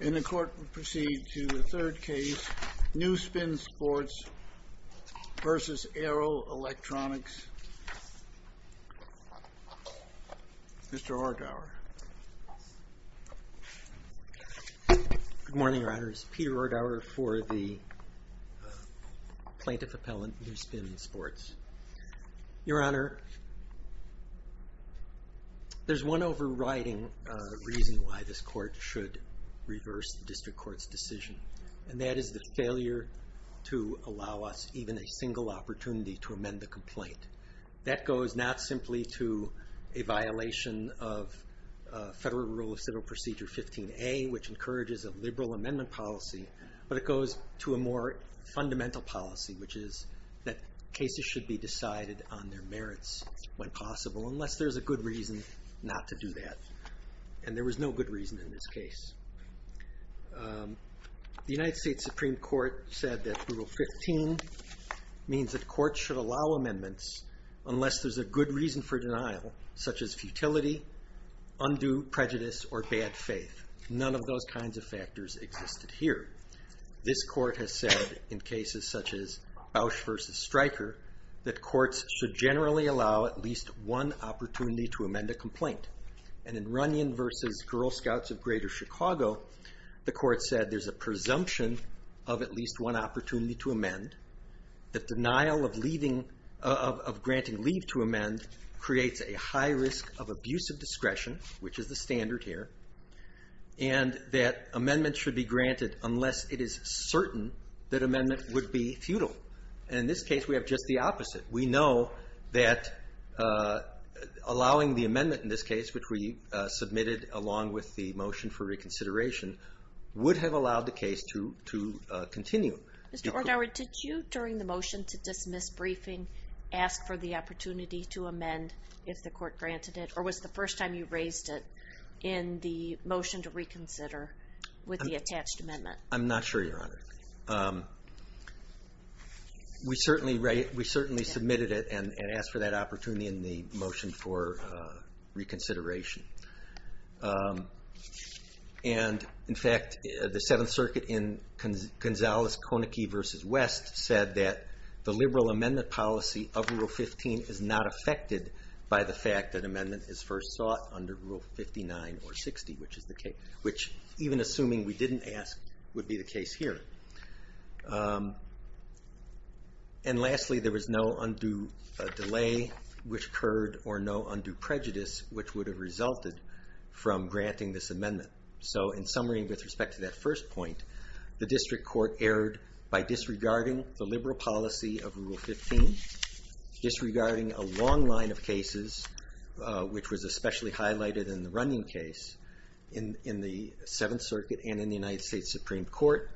And the court will proceed to the third case, NewSpin Sports v. Arrow Electronics. Mr. R. Dower. Good morning, Your Honors. Peter R. Dower for the Plaintiff Appellant, NewSpin Sports. Your Honor, there's one overriding reason why this court should reverse the district court's decision, and that is the failure to allow us even a single opportunity to amend the complaint. That goes not simply to a violation of Federal Rule of Civil Procedure 15a, which encourages a liberal amendment policy, but it goes to a more fundamental policy, which is that cases should be decided on their merits when possible, unless there's a good reason not to do that. And there was no good reason in this case. The United States Supreme Court said that Rule 15 means that courts should allow amendments unless there's a good reason for denial, such as futility, undue prejudice, or bad faith. None of those kinds of factors existed here. This court has said in cases such as Bausch v. Stryker that courts should generally allow at least one opportunity to amend a complaint. And in Runyon v. Girl Scouts of Greater Chicago, the court said there's a presumption of at least one opportunity to amend, that denial of granting leave to amend creates a high risk of abusive discretion, which is the standard here, and that amendments should be granted unless it is certain that amendment would be futile. And in this case, we have just the opposite. We know that allowing the amendment in this case, which we submitted along with the motion for reconsideration, would have allowed the case to continue. Mr. Ortower, did you, during the motion to dismiss briefing, ask for the opportunity to amend if the court granted it, or was the first time you raised it in the motion to reconsider with the attached amendment? I'm not sure, Your Honor. We certainly submitted it and asked for that opportunity in the motion for reconsideration. And, in fact, the Seventh Circuit in Gonzales-Koenigke v. West said that the liberal amendment policy of Rule 15 is not affected by the fact that amendment is first sought under Rule 59 or 60, which is the case, which, even assuming we didn't ask, would be the case here. And lastly, there was no undue delay, which occurred, or no undue prejudice, which would have resulted from granting this amendment. So, in summary, with respect to that first point, the district court erred by disregarding the liberal policy of Rule 15, disregarding a long line of cases, which was especially highlighted in the Runyon case, in the Seventh Circuit and in the United States Supreme Court,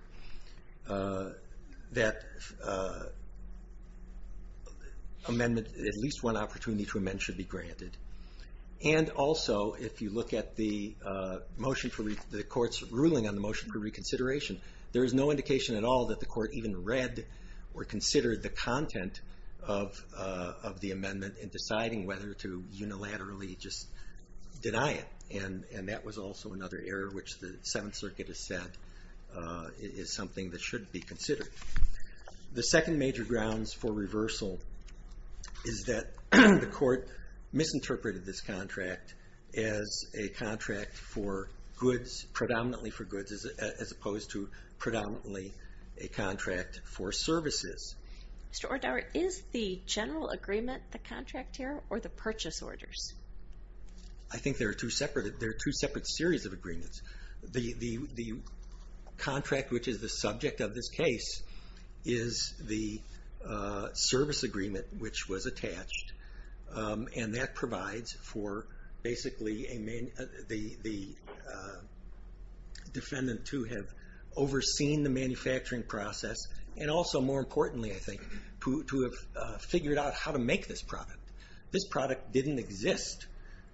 that at least one opportunity to amend should be granted. And also, if you look at the court's ruling on the motion for reconsideration, there is no indication at all that the court even read or considered the content of the amendment in deciding whether to unilaterally just deny it. And that was also another error, which the Seventh Circuit has said is something that should be considered. The second major grounds for reversal is that the court misinterpreted this contract as a contract for goods, predominantly for goods, as opposed to predominantly a contract for services. Mr. Ordower, is the general agreement the contract error or the purchase orders? I think they're two separate series of agreements. The contract which is the subject of this case is the service agreement which was attached, and that provides for basically the defendant to have overseen the manufacturing process, and also more importantly, I think, to have figured out how to make this product. This product didn't exist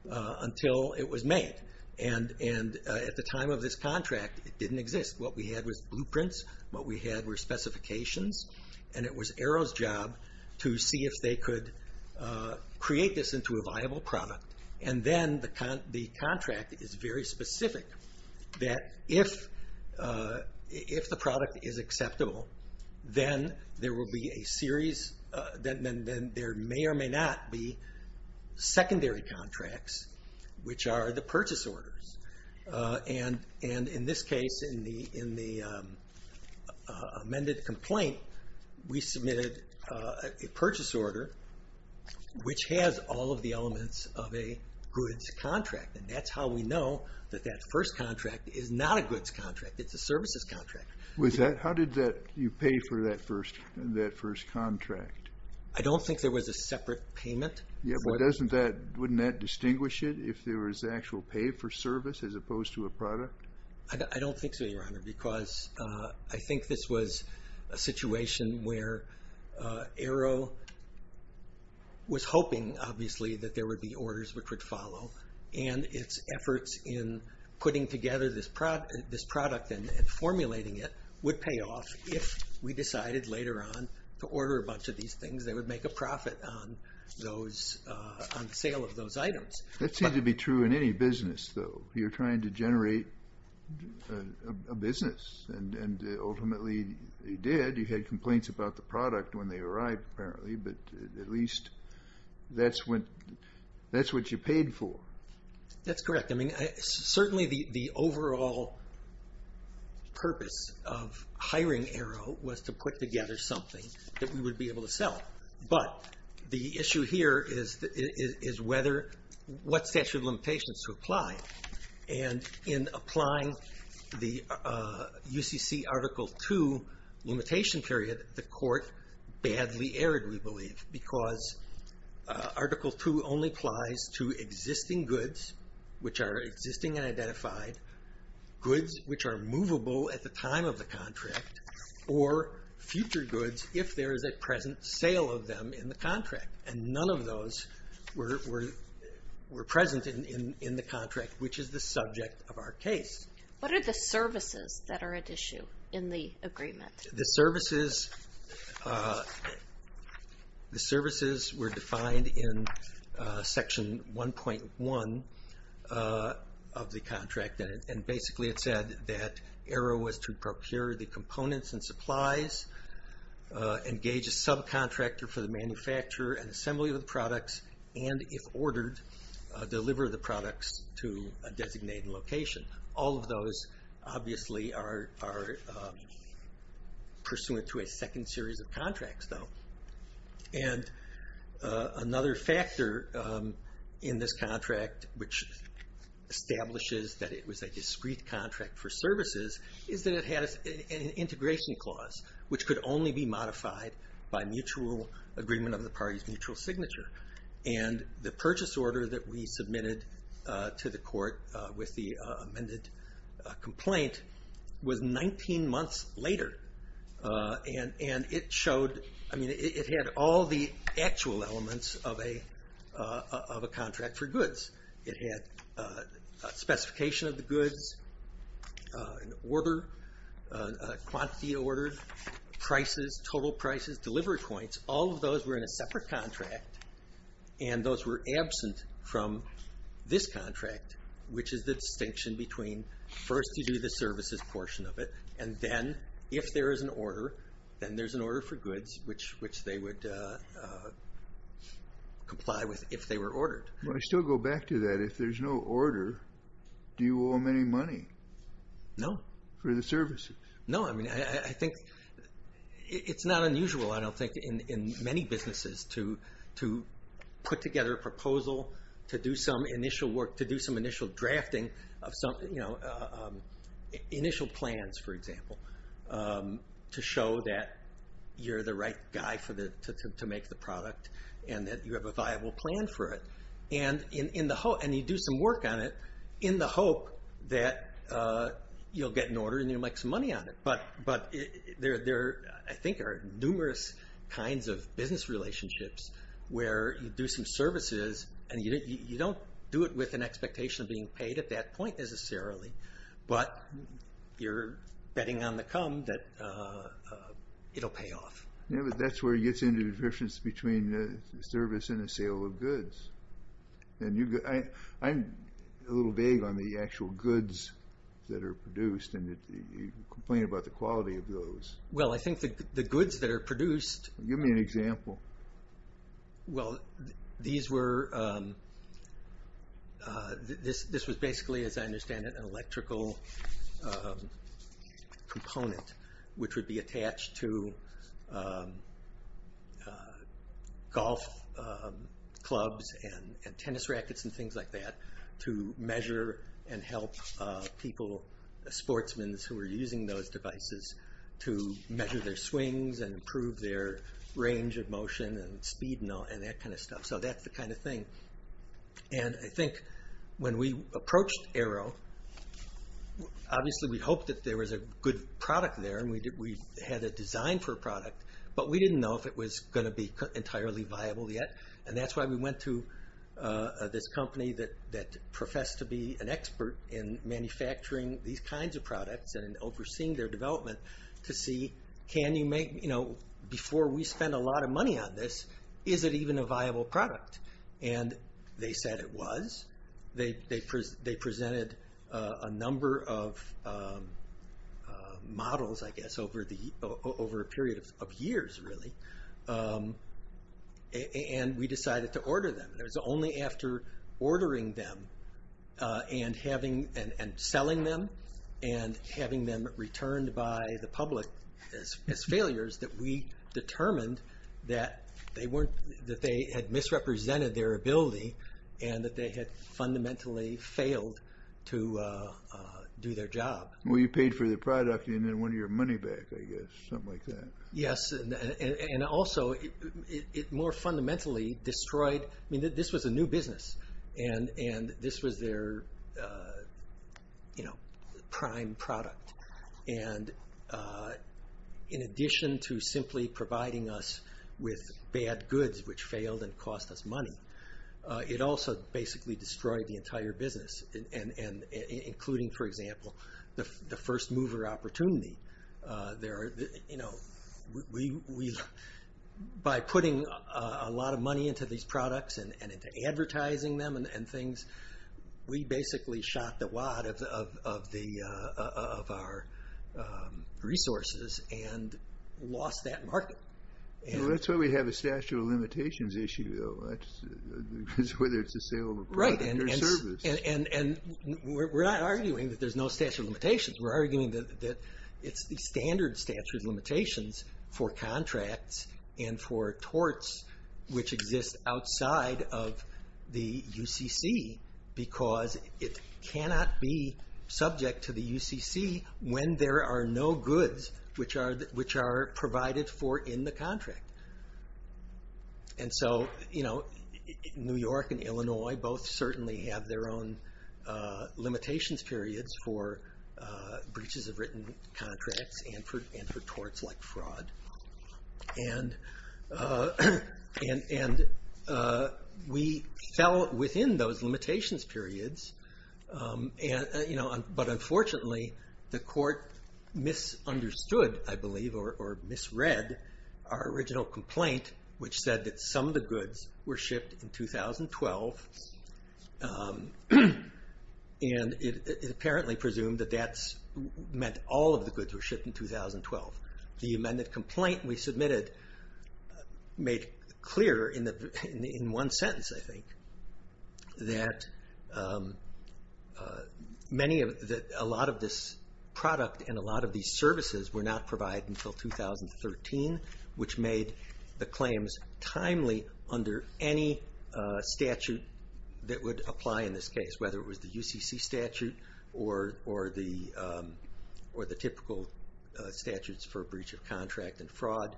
until it was made. And at the time of this contract, it didn't exist. What we had was blueprints, what we had were specifications, and it was Arrow's job to see if they could create this into a viable product. And then the contract is very specific that if the product is acceptable, then there may or may not be secondary contracts, which are the purchase orders. And in this case, in the amended complaint, we submitted a purchase order which has all of the elements of a goods contract, and that's how we know that that first contract is not a goods contract, it's a services contract. How did you pay for that first contract? I don't think there was a separate payment. Yeah, but wouldn't that distinguish it if there was actual pay for service as opposed to a product? I don't think so, Your Honor, because I think this was a situation where Arrow was hoping, obviously, that there would be orders which would follow, and its efforts in putting together this product and formulating it would pay off if we decided later on to order a bunch of these things. They would make a profit on the sale of those items. That seems to be true in any business, though. You're trying to generate a business, and ultimately you did. You had complaints about the product when they arrived, apparently, but at least that's what you paid for. That's correct. I mean, certainly the overall purpose of hiring Arrow was to put together something that we would be able to sell, but the issue here is what statute of limitations to apply, and in applying the UCC Article II limitation period, the court badly erred, we believe, because Article II only applies to existing goods, which are existing and identified, goods which are movable at the time of the contract, or future goods if there is a present sale of them in the contract, and none of those were present in the contract, which is the subject of our case. What are the services that are at issue in the agreement? The services were defined in Section 1.1 of the contract, and basically it said that Arrow was to procure the components and supplies, engage a subcontractor for the manufacturer and assembly of the products, and if ordered, deliver the products to a designated location. All of those obviously are pursuant to a second series of contracts, though. And another factor in this contract, which establishes that it was a discrete contract for services, is that it had an integration clause, which could only be modified by mutual agreement of the party's mutual signature. And the purchase order that we submitted to the court with the amended complaint was 19 months later, and it had all the actual elements of a contract for goods. It had specification of the goods, quantity ordered, prices, total prices, delivery points, all of those were in a separate contract, and those were absent from this contract, which is the distinction between first you do the services portion of it, and then if there is an order, then there's an order for goods, which they would comply with if they were ordered. I still go back to that. If there's no order, do you owe them any money? No. For the services? No. I think it's not unusual, I don't think, in many businesses to put together a proposal to do some initial work, to do some initial drafting of some initial plans, for example, to show that you're the right guy to make the product and that you have a viable plan for it. And you do some work on it in the hope that you'll get an order and you'll make some money on it. But there, I think, are numerous kinds of business relationships where you do some services and you don't do it with an expectation of being paid at that point necessarily, but you're betting on the come that it'll pay off. Yeah, but that's where it gets into the difference between a service and a sale of goods. I'm a little vague on the actual goods that are produced, and you complain about the quality of those. Well, I think the goods that are produced... Give me an example. Well, these were, this was basically, as I understand it, an electrical component, which would be attached to golf clubs and tennis rackets and things like that to measure and help people, sportsmen who were using those devices, to measure their swings and improve their range of motion and speed and that kind of stuff. So that's the kind of thing. And I think when we approached Arrow, obviously we hoped that there was a good product there and we had a design for a product, but we didn't know if it was going to be entirely viable yet. And that's why we went to this company that professed to be an expert in manufacturing these kinds of products and in overseeing their development to see, before we spend a lot of money on this, is it even a viable product? And they said it was. They presented a number of models, I guess, over a period of years, really. And we decided to order them. It was only after ordering them and selling them and having them returned by the public as failures that we determined that they had misrepresented their ability and that they had fundamentally failed to do their job. Well, you paid for the product and then won your money back, I guess. Something like that. Yes, and also it more fundamentally destroyed, I mean, this was a new business and this was their prime product. And in addition to simply providing us with bad goods, which failed and cost us money, it also basically destroyed the entire business, including, for example, the first mover opportunity. By putting a lot of money into these products and into advertising them and things, we basically shot the wad of our resources and lost that market. Well, that's why we have a statute of limitations issue, though, whether it's a sale of a product or service. Right, and we're not arguing that there's no statute of limitations. We're arguing that it's the standard statute of limitations for contracts and for torts, which exist outside of the UCC because it cannot be subject to the UCC when there are no goods which are provided for in the contract. And so, you know, New York and Illinois both certainly have their own limitations periods for breaches of written contracts and for torts like fraud. And we fell within those limitations periods, but unfortunately the court misunderstood, I believe, or misread our original complaint, which said that some of the goods were shipped in 2012. And it apparently presumed that that meant all of the goods were shipped in 2012. The amended complaint we submitted made clear in one sentence, I think, that a lot of this product and a lot of these services were not provided until 2013, which made the claims timely under any statute that would apply in this case, whether it was the UCC statute or the typical statutes for breach of contract and fraud,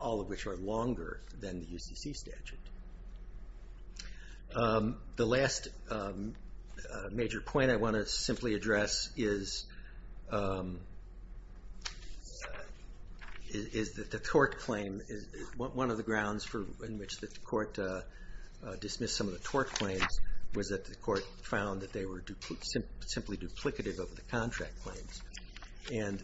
all of which are longer than the UCC statute. The last major point I want to simply address is that the tort claim, one of the grounds in which the court dismissed some of the tort claims was that the court found that they were simply duplicative of the contract claims. And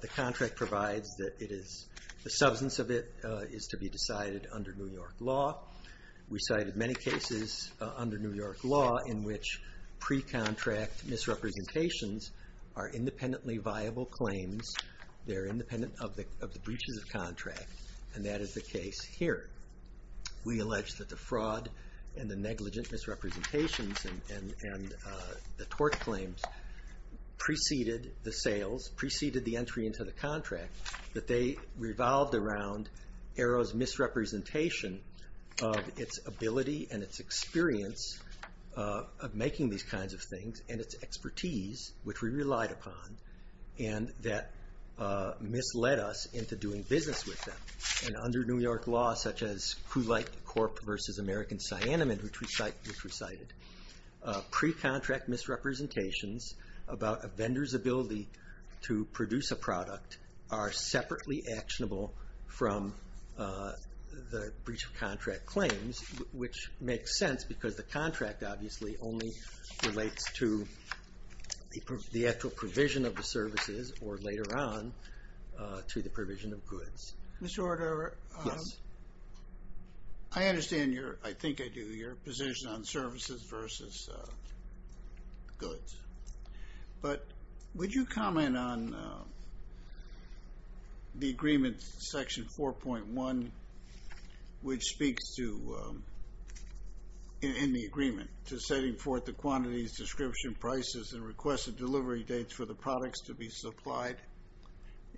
the contract provides that the substance of it is to be decided under New York law. We cited many cases under New York law in which pre-contract misrepresentations are independently viable claims. They're independent of the breaches of contract, and that is the case here. We allege that the fraud and the negligent misrepresentations and the tort claims preceded the sales, preceded the entry into the contract, that they revolved around Aero's misrepresentation of its ability and its experience of making these kinds of things and its expertise, which we relied upon, and that misled us into doing business with them. And under New York law, such as Kulight Corp. v. American Cyanamid, which we cited, pre-contract misrepresentations about a vendor's ability to produce a product are separately actionable from the breach of contract claims, which makes sense because the contract obviously only relates to the actual provision of the services or, later on, to the provision of goods. Mr. Ordova. Yes. I understand your, I think I do, your position on services versus goods, but would you comment on the agreement, Section 4.1, which speaks to, in the agreement, to setting forth the quantities, description, prices, and request of delivery dates for the products to be supplied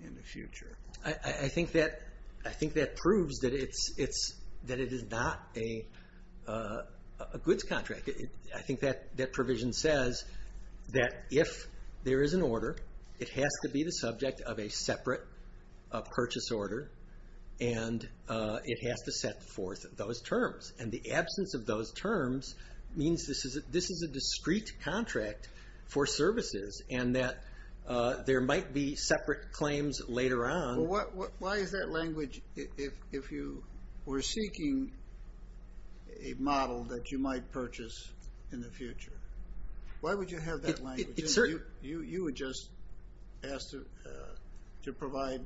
in the future? I think that proves that it is not a goods contract. I think that provision says that if there is an order, it has to be the subject of a separate purchase order, and it has to set forth those terms. And the absence of those terms means this is a discrete contract for services and that there might be separate claims later on. Why is that language if you were seeking a model that you might purchase in the future? Why would you have that language? You would just ask to provide,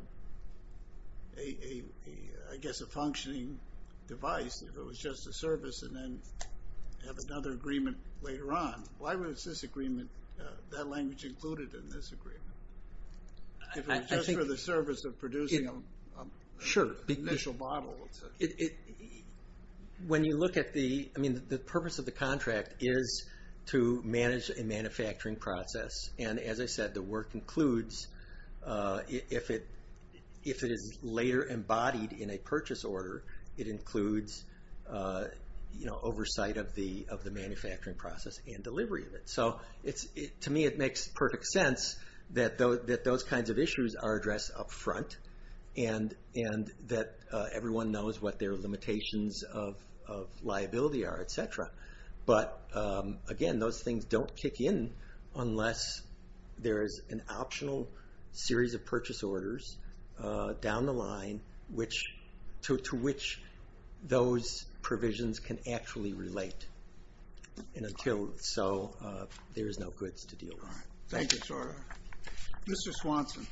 I guess, a functioning device if it was just a service and then have another agreement later on. Why was this agreement, that language included in this agreement? If it was just for the service of producing an initial model. When you look at the, I mean, the purpose of the contract is to manage a manufacturing process, and as I said, the work includes, if it is later embodied in a purchase order, it includes oversight of the manufacturing process and delivery of it. So to me it makes perfect sense that those kinds of issues are addressed up front and that everyone knows what their limitations of liability are, et cetera. But again, those things don't kick in unless there is an optional series of purchase orders down the line to which those provisions can actually relate. And until so, there is no goods to deal with. Thank you, Jordan. Mr. Swanson.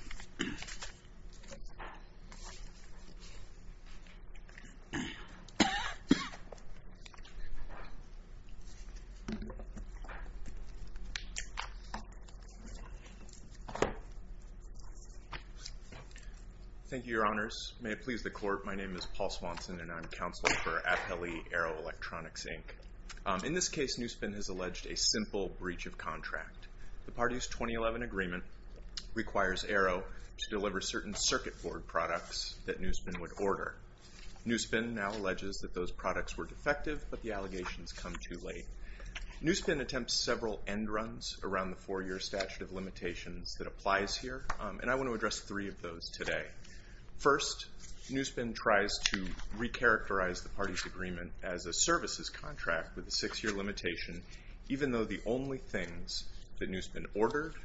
Thank you, Your Honors. May it please the Court, my name is Paul Swanson, and I'm counsel for Apelli Arrow Electronics, Inc. In this case, Newspen has alleged a simple breach of contract. The parties 2011 agreement requires Arrow to deliver certain circuit board products that Newspen would order. Newspen now alleges that those products were defective, but the allegations come too late. Newspen attempts several end runs around the four-year statute of limitations that applies here, and I want to address three of those today. First, Newspen tries to recharacterize the parties agreement as a services contract with a six-year limitation, even though the only things that Newspen ordered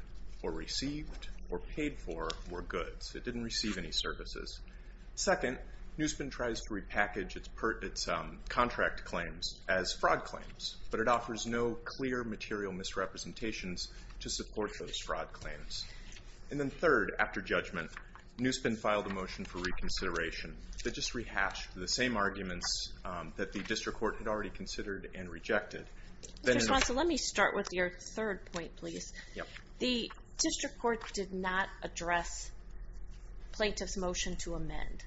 or received or paid for were goods. It didn't receive any services. Second, Newspen tries to repackage its contract claims as fraud claims, but it offers no clear material misrepresentations to support those fraud claims. And then third, after judgment, Newspen filed a motion for reconsideration that just rehashed the same arguments that the district court had already considered and rejected. Mr. Swanson, let me start with your third point, please. The district court did not address plaintiff's motion to amend,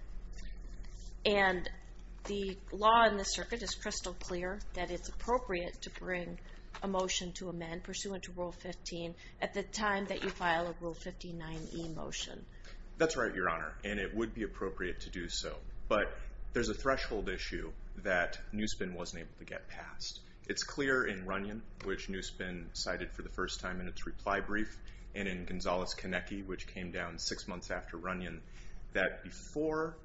and the law in this circuit is crystal clear that it's appropriate to bring a motion to amend, pursuant to Rule 15, at the time that you file a Rule 59e motion. That's right, Your Honor, and it would be appropriate to do so. But there's a threshold issue that Newspen wasn't able to get passed. It's clear in Runyon, which Newspen cited for the first time in its reply brief, and in Gonzales-Konecki, which came down six months after Runyon, that before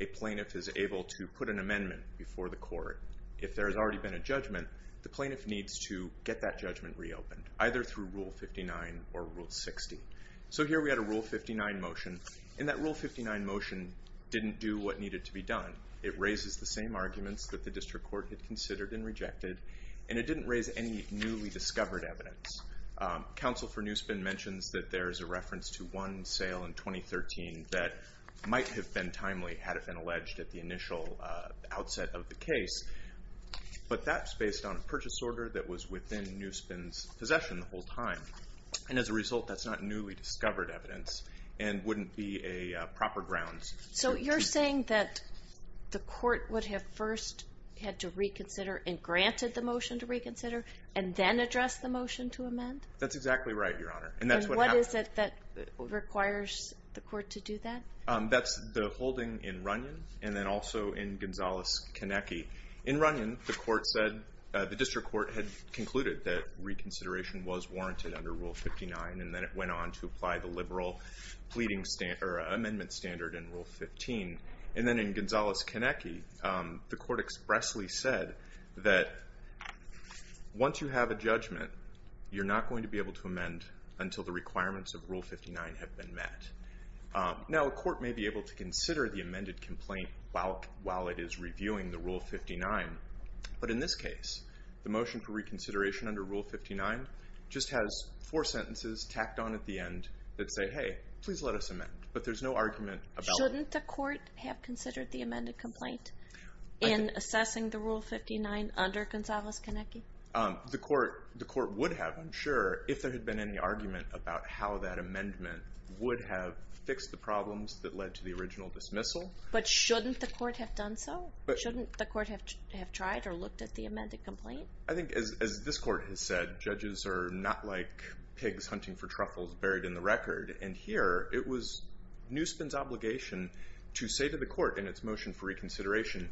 a plaintiff is able to put an amendment before the court, if there has already been a judgment, the plaintiff needs to get that judgment reopened, either through Rule 59 or Rule 60. So here we had a Rule 59 motion, and that Rule 59 motion didn't do what needed to be done. It raises the same arguments that the district court had considered and rejected, and it didn't raise any newly discovered evidence. Counsel for Newspen mentions that there is a reference to one sale in 2013 that might have been timely had it been alleged at the initial outset of the case, but that's based on a purchase order that was within Newspen's possession the whole time, and as a result that's not newly discovered evidence and wouldn't be a proper grounds. So you're saying that the court would have first had to reconsider and granted the motion to reconsider and then address the motion to amend? That's exactly right, Your Honor, and that's what happened. What is it that requires the court to do that? That's the holding in Runyon and then also in Gonzales-Konecki. In Runyon, the district court had concluded that reconsideration was warranted under Rule 59, and then it went on to apply the liberal amendment standard in Rule 15. And then in Gonzales-Konecki, the court expressly said that once you have a judgment, you're not going to be able to amend until the requirements of Rule 59 have been met. Now, a court may be able to consider the amended complaint while it is reviewing the Rule 59, but in this case, the motion for reconsideration under Rule 59 just has four sentences tacked on at the end that say, hey, please let us amend, but there's no argument about it. Shouldn't the court have considered the amended complaint in assessing the Rule 59 under Gonzales-Konecki? The court would have, I'm sure, if there had been any argument about how that amendment would have fixed the problems that led to the original dismissal. But shouldn't the court have done so? Shouldn't the court have tried or looked at the amended complaint? I think as this court has said, judges are not like pigs hunting for truffles buried in the record, and here it was Newspun's obligation to say to the court in its motion for reconsideration, and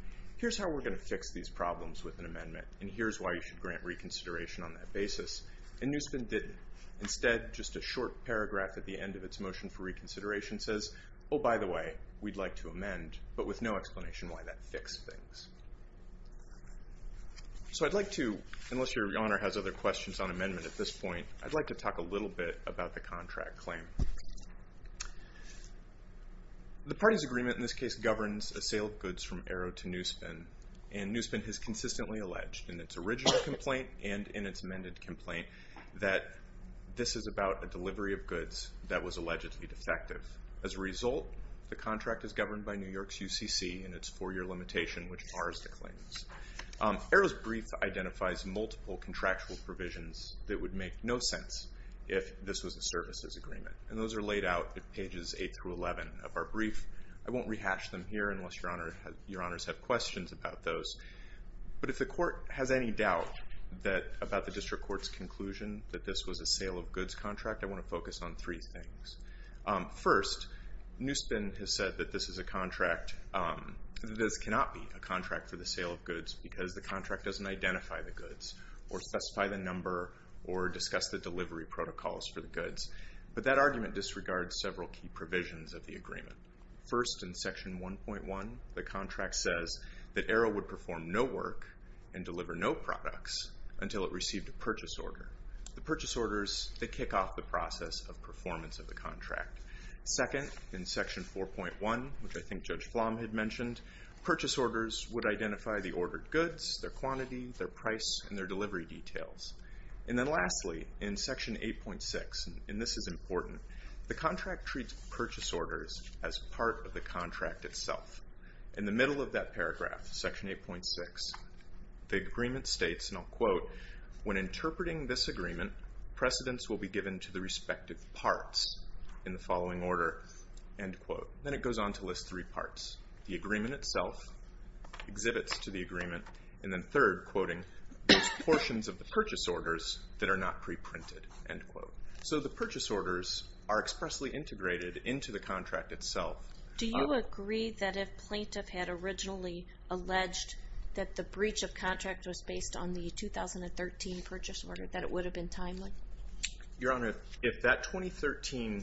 here's why you should grant reconsideration on that basis, and Newspun didn't. Instead, just a short paragraph at the end of its motion for reconsideration says, oh, by the way, we'd like to amend, but with no explanation why that fixed things. So I'd like to, unless Your Honor has other questions on amendment at this point, I'd like to talk a little bit about the contract claim. The party's agreement in this case governs a sale of goods from Arrow to Newspun, and Newspun has consistently alleged in its original complaint and in its amended complaint that this is about a delivery of goods that was allegedly defective. As a result, the contract is governed by New York's UCC and its four-year limitation, which is ours to claim. Arrow's brief identifies multiple contractual provisions that would make no sense if this was a services agreement, and those are laid out at pages 8 through 11 of our brief. I won't rehash them here unless Your Honors have questions about those, but if the court has any doubt about the district court's conclusion that this was a sale of goods contract, I want to focus on three things. First, Newspun has said that this cannot be a contract for the sale of goods because the contract doesn't identify the goods or specify the number or discuss the delivery protocols for the goods, but that argument disregards several key provisions of the agreement. First, in Section 1.1, the contract says that Arrow would perform no work and deliver no products until it received a purchase order. The purchase orders, they kick off the process of performance of the contract. Second, in Section 4.1, which I think Judge Flom had mentioned, purchase orders would identify the ordered goods, their quantity, their price, and their delivery details. And then lastly, in Section 8.6, and this is important, the contract treats purchase orders as part of the contract itself. In the middle of that paragraph, Section 8.6, the agreement states, and I'll quote, when interpreting this agreement, precedents will be given to the respective parts in the following order, end quote. Then it goes on to list three parts. The agreement itself exhibits to the agreement, and then third, quoting, those portions of the purchase orders that are not preprinted, end quote. So the purchase orders are expressly integrated into the contract itself. Do you agree that if Plaintiff had originally alleged that the breach of contract was based on the 2013 purchase order, that it would have been timely? Your Honor, if that 2013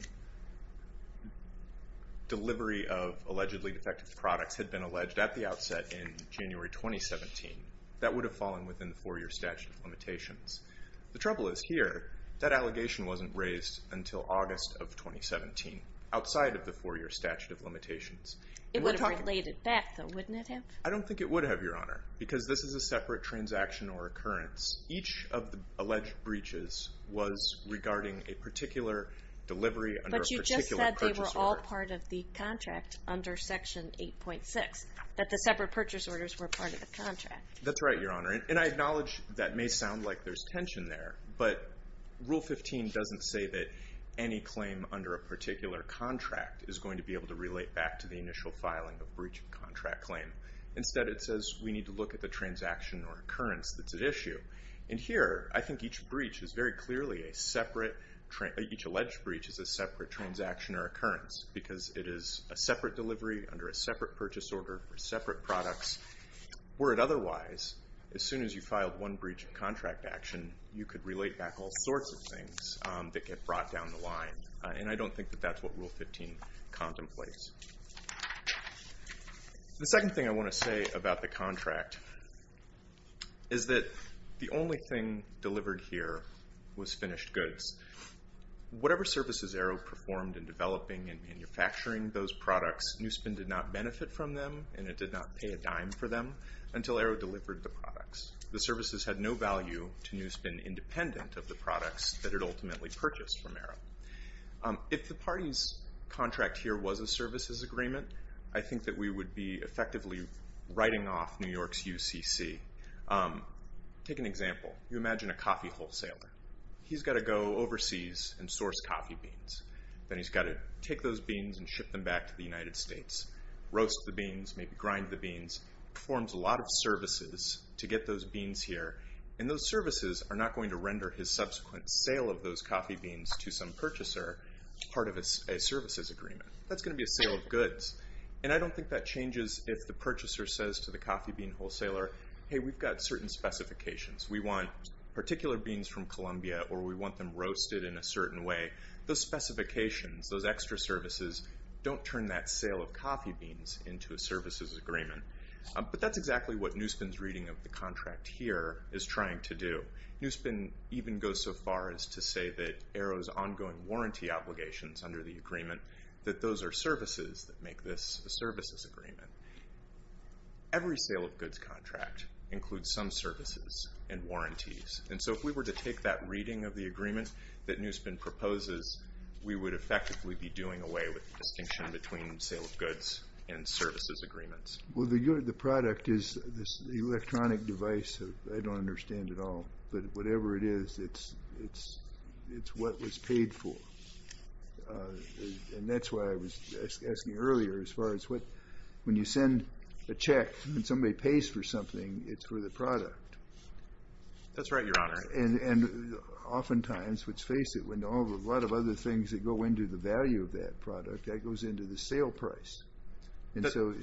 delivery of allegedly defective products had been alleged at the outset in January 2017, that would have fallen within the 4-year statute of limitations. The trouble is here, that allegation wasn't raised until August of 2017, outside of the 4-year statute of limitations. It would have related back, though, wouldn't it have? I don't think it would have, Your Honor, because this is a separate transaction or occurrence. Each of the alleged breaches was regarding a particular delivery under a particular purchase order. It was not part of the contract under Section 8.6, that the separate purchase orders were part of the contract. That's right, Your Honor. And I acknowledge that may sound like there's tension there, but Rule 15 doesn't say that any claim under a particular contract is going to be able to relate back to the initial filing of breach of contract claim. Instead, it says we need to look at the transaction or occurrence that's at issue. And here, I think each alleged breach is a separate transaction or occurrence. Because it is a separate delivery under a separate purchase order for separate products. Were it otherwise, as soon as you filed one breach of contract action, you could relate back all sorts of things that get brought down the line. And I don't think that that's what Rule 15 contemplates. The second thing I want to say about the contract is that the only thing delivered here was finished goods. Whatever services Arrow performed in developing and manufacturing those products, Newspin did not benefit from them and it did not pay a dime for them until Arrow delivered the products. The services had no value to Newspin independent of the products that it ultimately purchased from Arrow. If the party's contract here was a services agreement, I think that we would be effectively writing off New York's UCC. Take an example. You imagine a coffee wholesaler. He's got to go overseas and source coffee beans. Then he's got to take those beans and ship them back to the United States. Roast the beans, maybe grind the beans. Performs a lot of services to get those beans here. And those services are not going to render his subsequent sale of those coffee beans to some purchaser as part of a services agreement. That's going to be a sale of goods. And I don't think that changes if the purchaser says to the coffee bean wholesaler, Hey, we've got certain specifications. We want particular beans from Columbia or we want them roasted in a certain way. Those specifications, those extra services, don't turn that sale of coffee beans into a services agreement. But that's exactly what Newspin's reading of the contract here is trying to do. Newspin even goes so far as to say that Arrow's ongoing warranty obligations under the agreement, that those are services that make this a services agreement. Every sale of goods contract includes some services and warranties. And so if we were to take that reading of the agreement that Newspin proposes, we would effectively be doing away with the distinction between sale of goods and services agreements. Well, the product is this electronic device. I don't understand it all. But whatever it is, it's what was paid for. And that's why I was asking earlier as far as when you send a check and somebody pays for something, it's for the product. That's right, Your Honor. And oftentimes, let's face it, when a lot of other things that go into the value of that product, that goes into the sale price. And so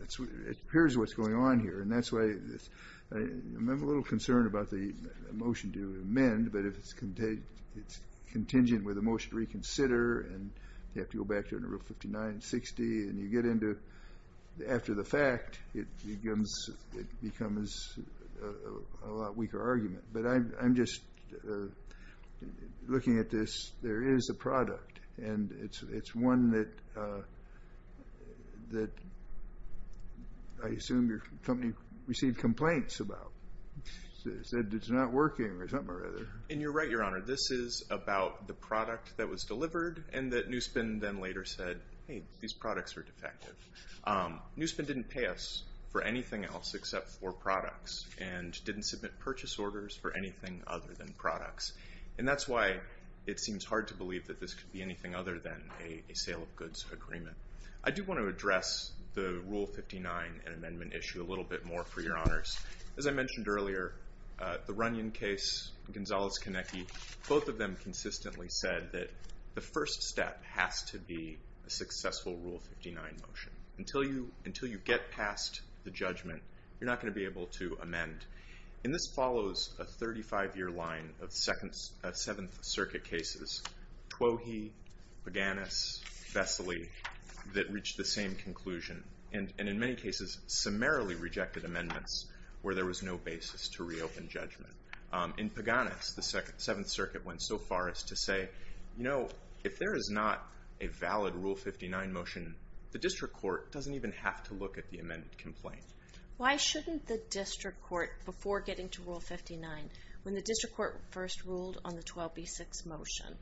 it appears what's going on here. And that's why I'm a little concerned about the motion to amend, but if it's contingent with a motion to reconsider and you have to go back to it in Rule 59 and 60, and you get into it after the fact, it becomes a lot weaker argument. But I'm just looking at this. There is a product, and it's one that I assume your company received complaints about. It said it's not working or something or other. And you're right, Your Honor. This is about the product that was delivered and that Newspen then later said, hey, these products are defective. Newspen didn't pay us for anything else except for products and didn't submit purchase orders for anything other than products. And that's why it seems hard to believe that this could be anything other than a sale of goods agreement. I do want to address the Rule 59 and amendment issue a little bit more for Your Honors. As I mentioned earlier, the Runyon case, Gonzalez-Konecki, both of them consistently said that the first step has to be a successful Rule 59 motion. Until you get past the judgment, you're not going to be able to amend. And this follows a 35-year line of Seventh Circuit cases, Twohy, Paganis, Vesely, that reached the same conclusion and in many cases summarily rejected amendments where there was no basis to reopen judgment. In Paganis, the Seventh Circuit went so far as to say, you know, if there is not a valid Rule 59 motion, the district court doesn't even have to look at the amended complaint. Why shouldn't the district court, before getting to Rule 59, when the district court first ruled on the 12B6 motion,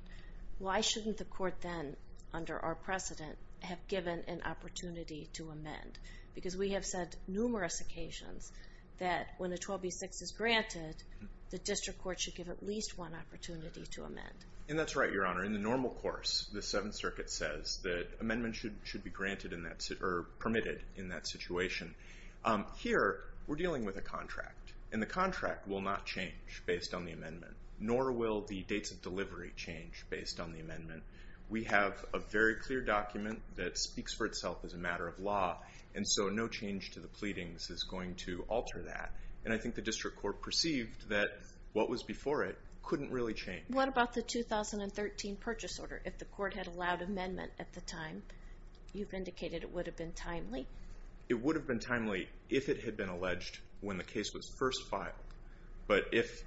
why shouldn't the court then, under our precedent, have given an opportunity to amend? Because we have said numerous occasions that when a 12B6 is granted, the district court should give at least one opportunity to amend. And that's right, Your Honor. In the normal course, the Seventh Circuit says that amendments should be granted or permitted in that situation. Here, we're dealing with a contract, and the contract will not change based on the amendment, nor will the dates of delivery change based on the amendment. We have a very clear document that speaks for itself as a matter of law, and so no change to the pleadings is going to alter that. And I think the district court perceived that what was before it couldn't really change. What about the 2013 purchase order? If the court had allowed amendment at the time, you've indicated it would have been timely. It would have been timely if it had been alleged when the case was first filed. But if,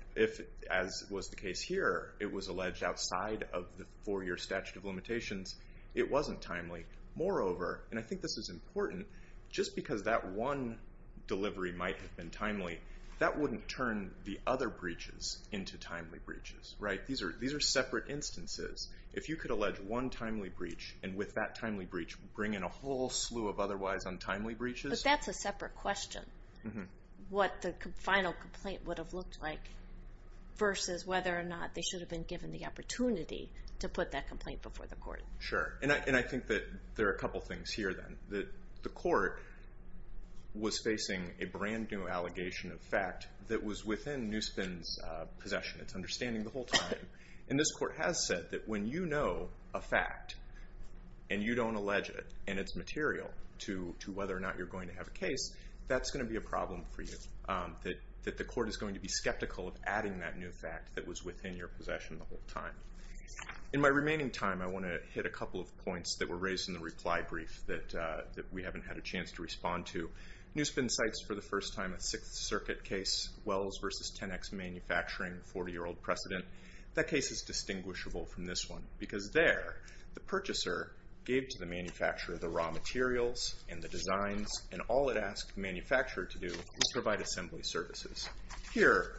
as was the case here, it was alleged outside of the four-year statute of limitations, it wasn't timely. Moreover, and I think this is important, just because that one delivery might have been timely, that wouldn't turn the other breaches into timely breaches, right? These are separate instances. If you could allege one timely breach, and with that timely breach bring in a whole slew of otherwise untimely breaches. But that's a separate question, what the final complaint would have looked like versus whether or not they should have been given the opportunity to put that complaint before the court. Sure. And I think that there are a couple things here, then. The court was facing a brand-new allegation of fact that was within Newspin's possession. It's understanding the whole time. And this court has said that when you know a fact and you don't allege it and it's material to whether or not you're going to have a case, that's going to be a problem for you. That the court is going to be skeptical of adding that new fact that was within your possession the whole time. In my remaining time, I want to hit a couple of points that were raised in the reply brief that we haven't had a chance to respond to. Newspin cites for the first time a Sixth Circuit case, Wells v. 10X Manufacturing, 40-year-old precedent. That case is distinguishable from this one, because there the purchaser gave to the manufacturer the raw materials and the designs, and all it asked the manufacturer to do was provide assembly services. Here,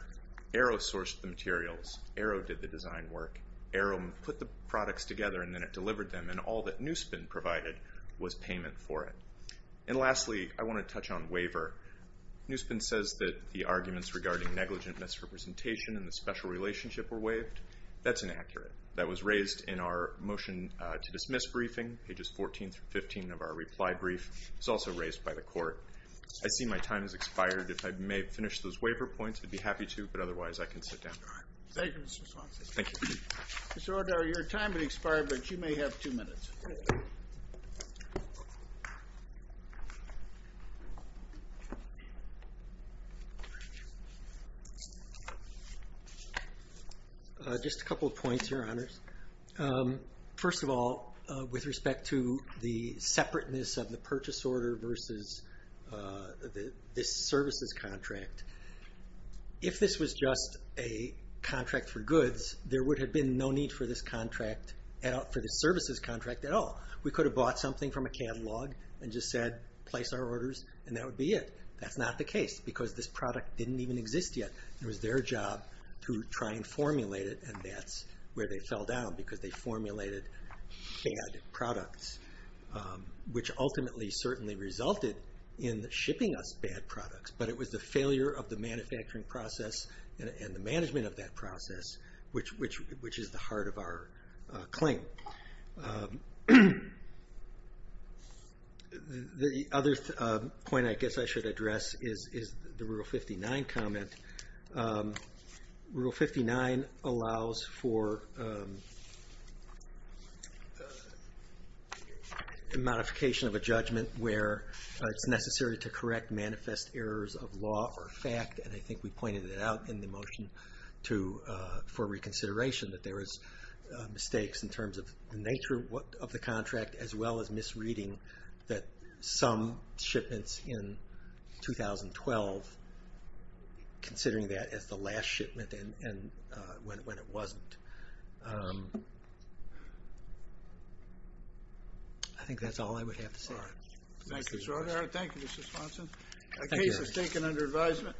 Arrow sourced the materials. Arrow did the design work. Arrow put the products together and then it delivered them, and all that Newspin provided was payment for it. And lastly, I want to touch on waiver. Newspin says that the arguments regarding negligent misrepresentation and the special relationship were waived. That's inaccurate. That was raised in our motion to dismiss briefing, pages 14 through 15 of our reply brief. It was also raised by the court. I see my time has expired. If I may finish those waiver points, I'd be happy to, but otherwise I can sit down. Thank you, Mr. Swanson. Thank you. Mr. O'Dowd, your time has expired, but you may have two minutes. Just a couple of points, Your Honors. First of all, with respect to the separateness of the purchase order versus this services contract, if this was just a contract for goods, there would have been no need for this services contract at all. We could have bought something from a catalog and just said, place our orders, and that would be it. That's not the case because this product didn't even exist yet. It was their job to try and formulate it, and that's where they fell down because they formulated bad products, which ultimately certainly resulted in shipping us bad products. But it was the failure of the manufacturing process and the management of that process which is the heart of our claim. The other point I guess I should address is the Rule 59 comment. Rule 59 allows for modification of a judgment where it's necessary to correct manifest errors of law or fact, and I think we pointed it out in the motion for reconsideration that there is mistakes in terms of the nature of the contract as well as misreading that some shipments in 2012 considering that as the last shipment and when it wasn't. I think that's all I would have to say. Thank you, Mr. Sponsor. The case is taken under advisement.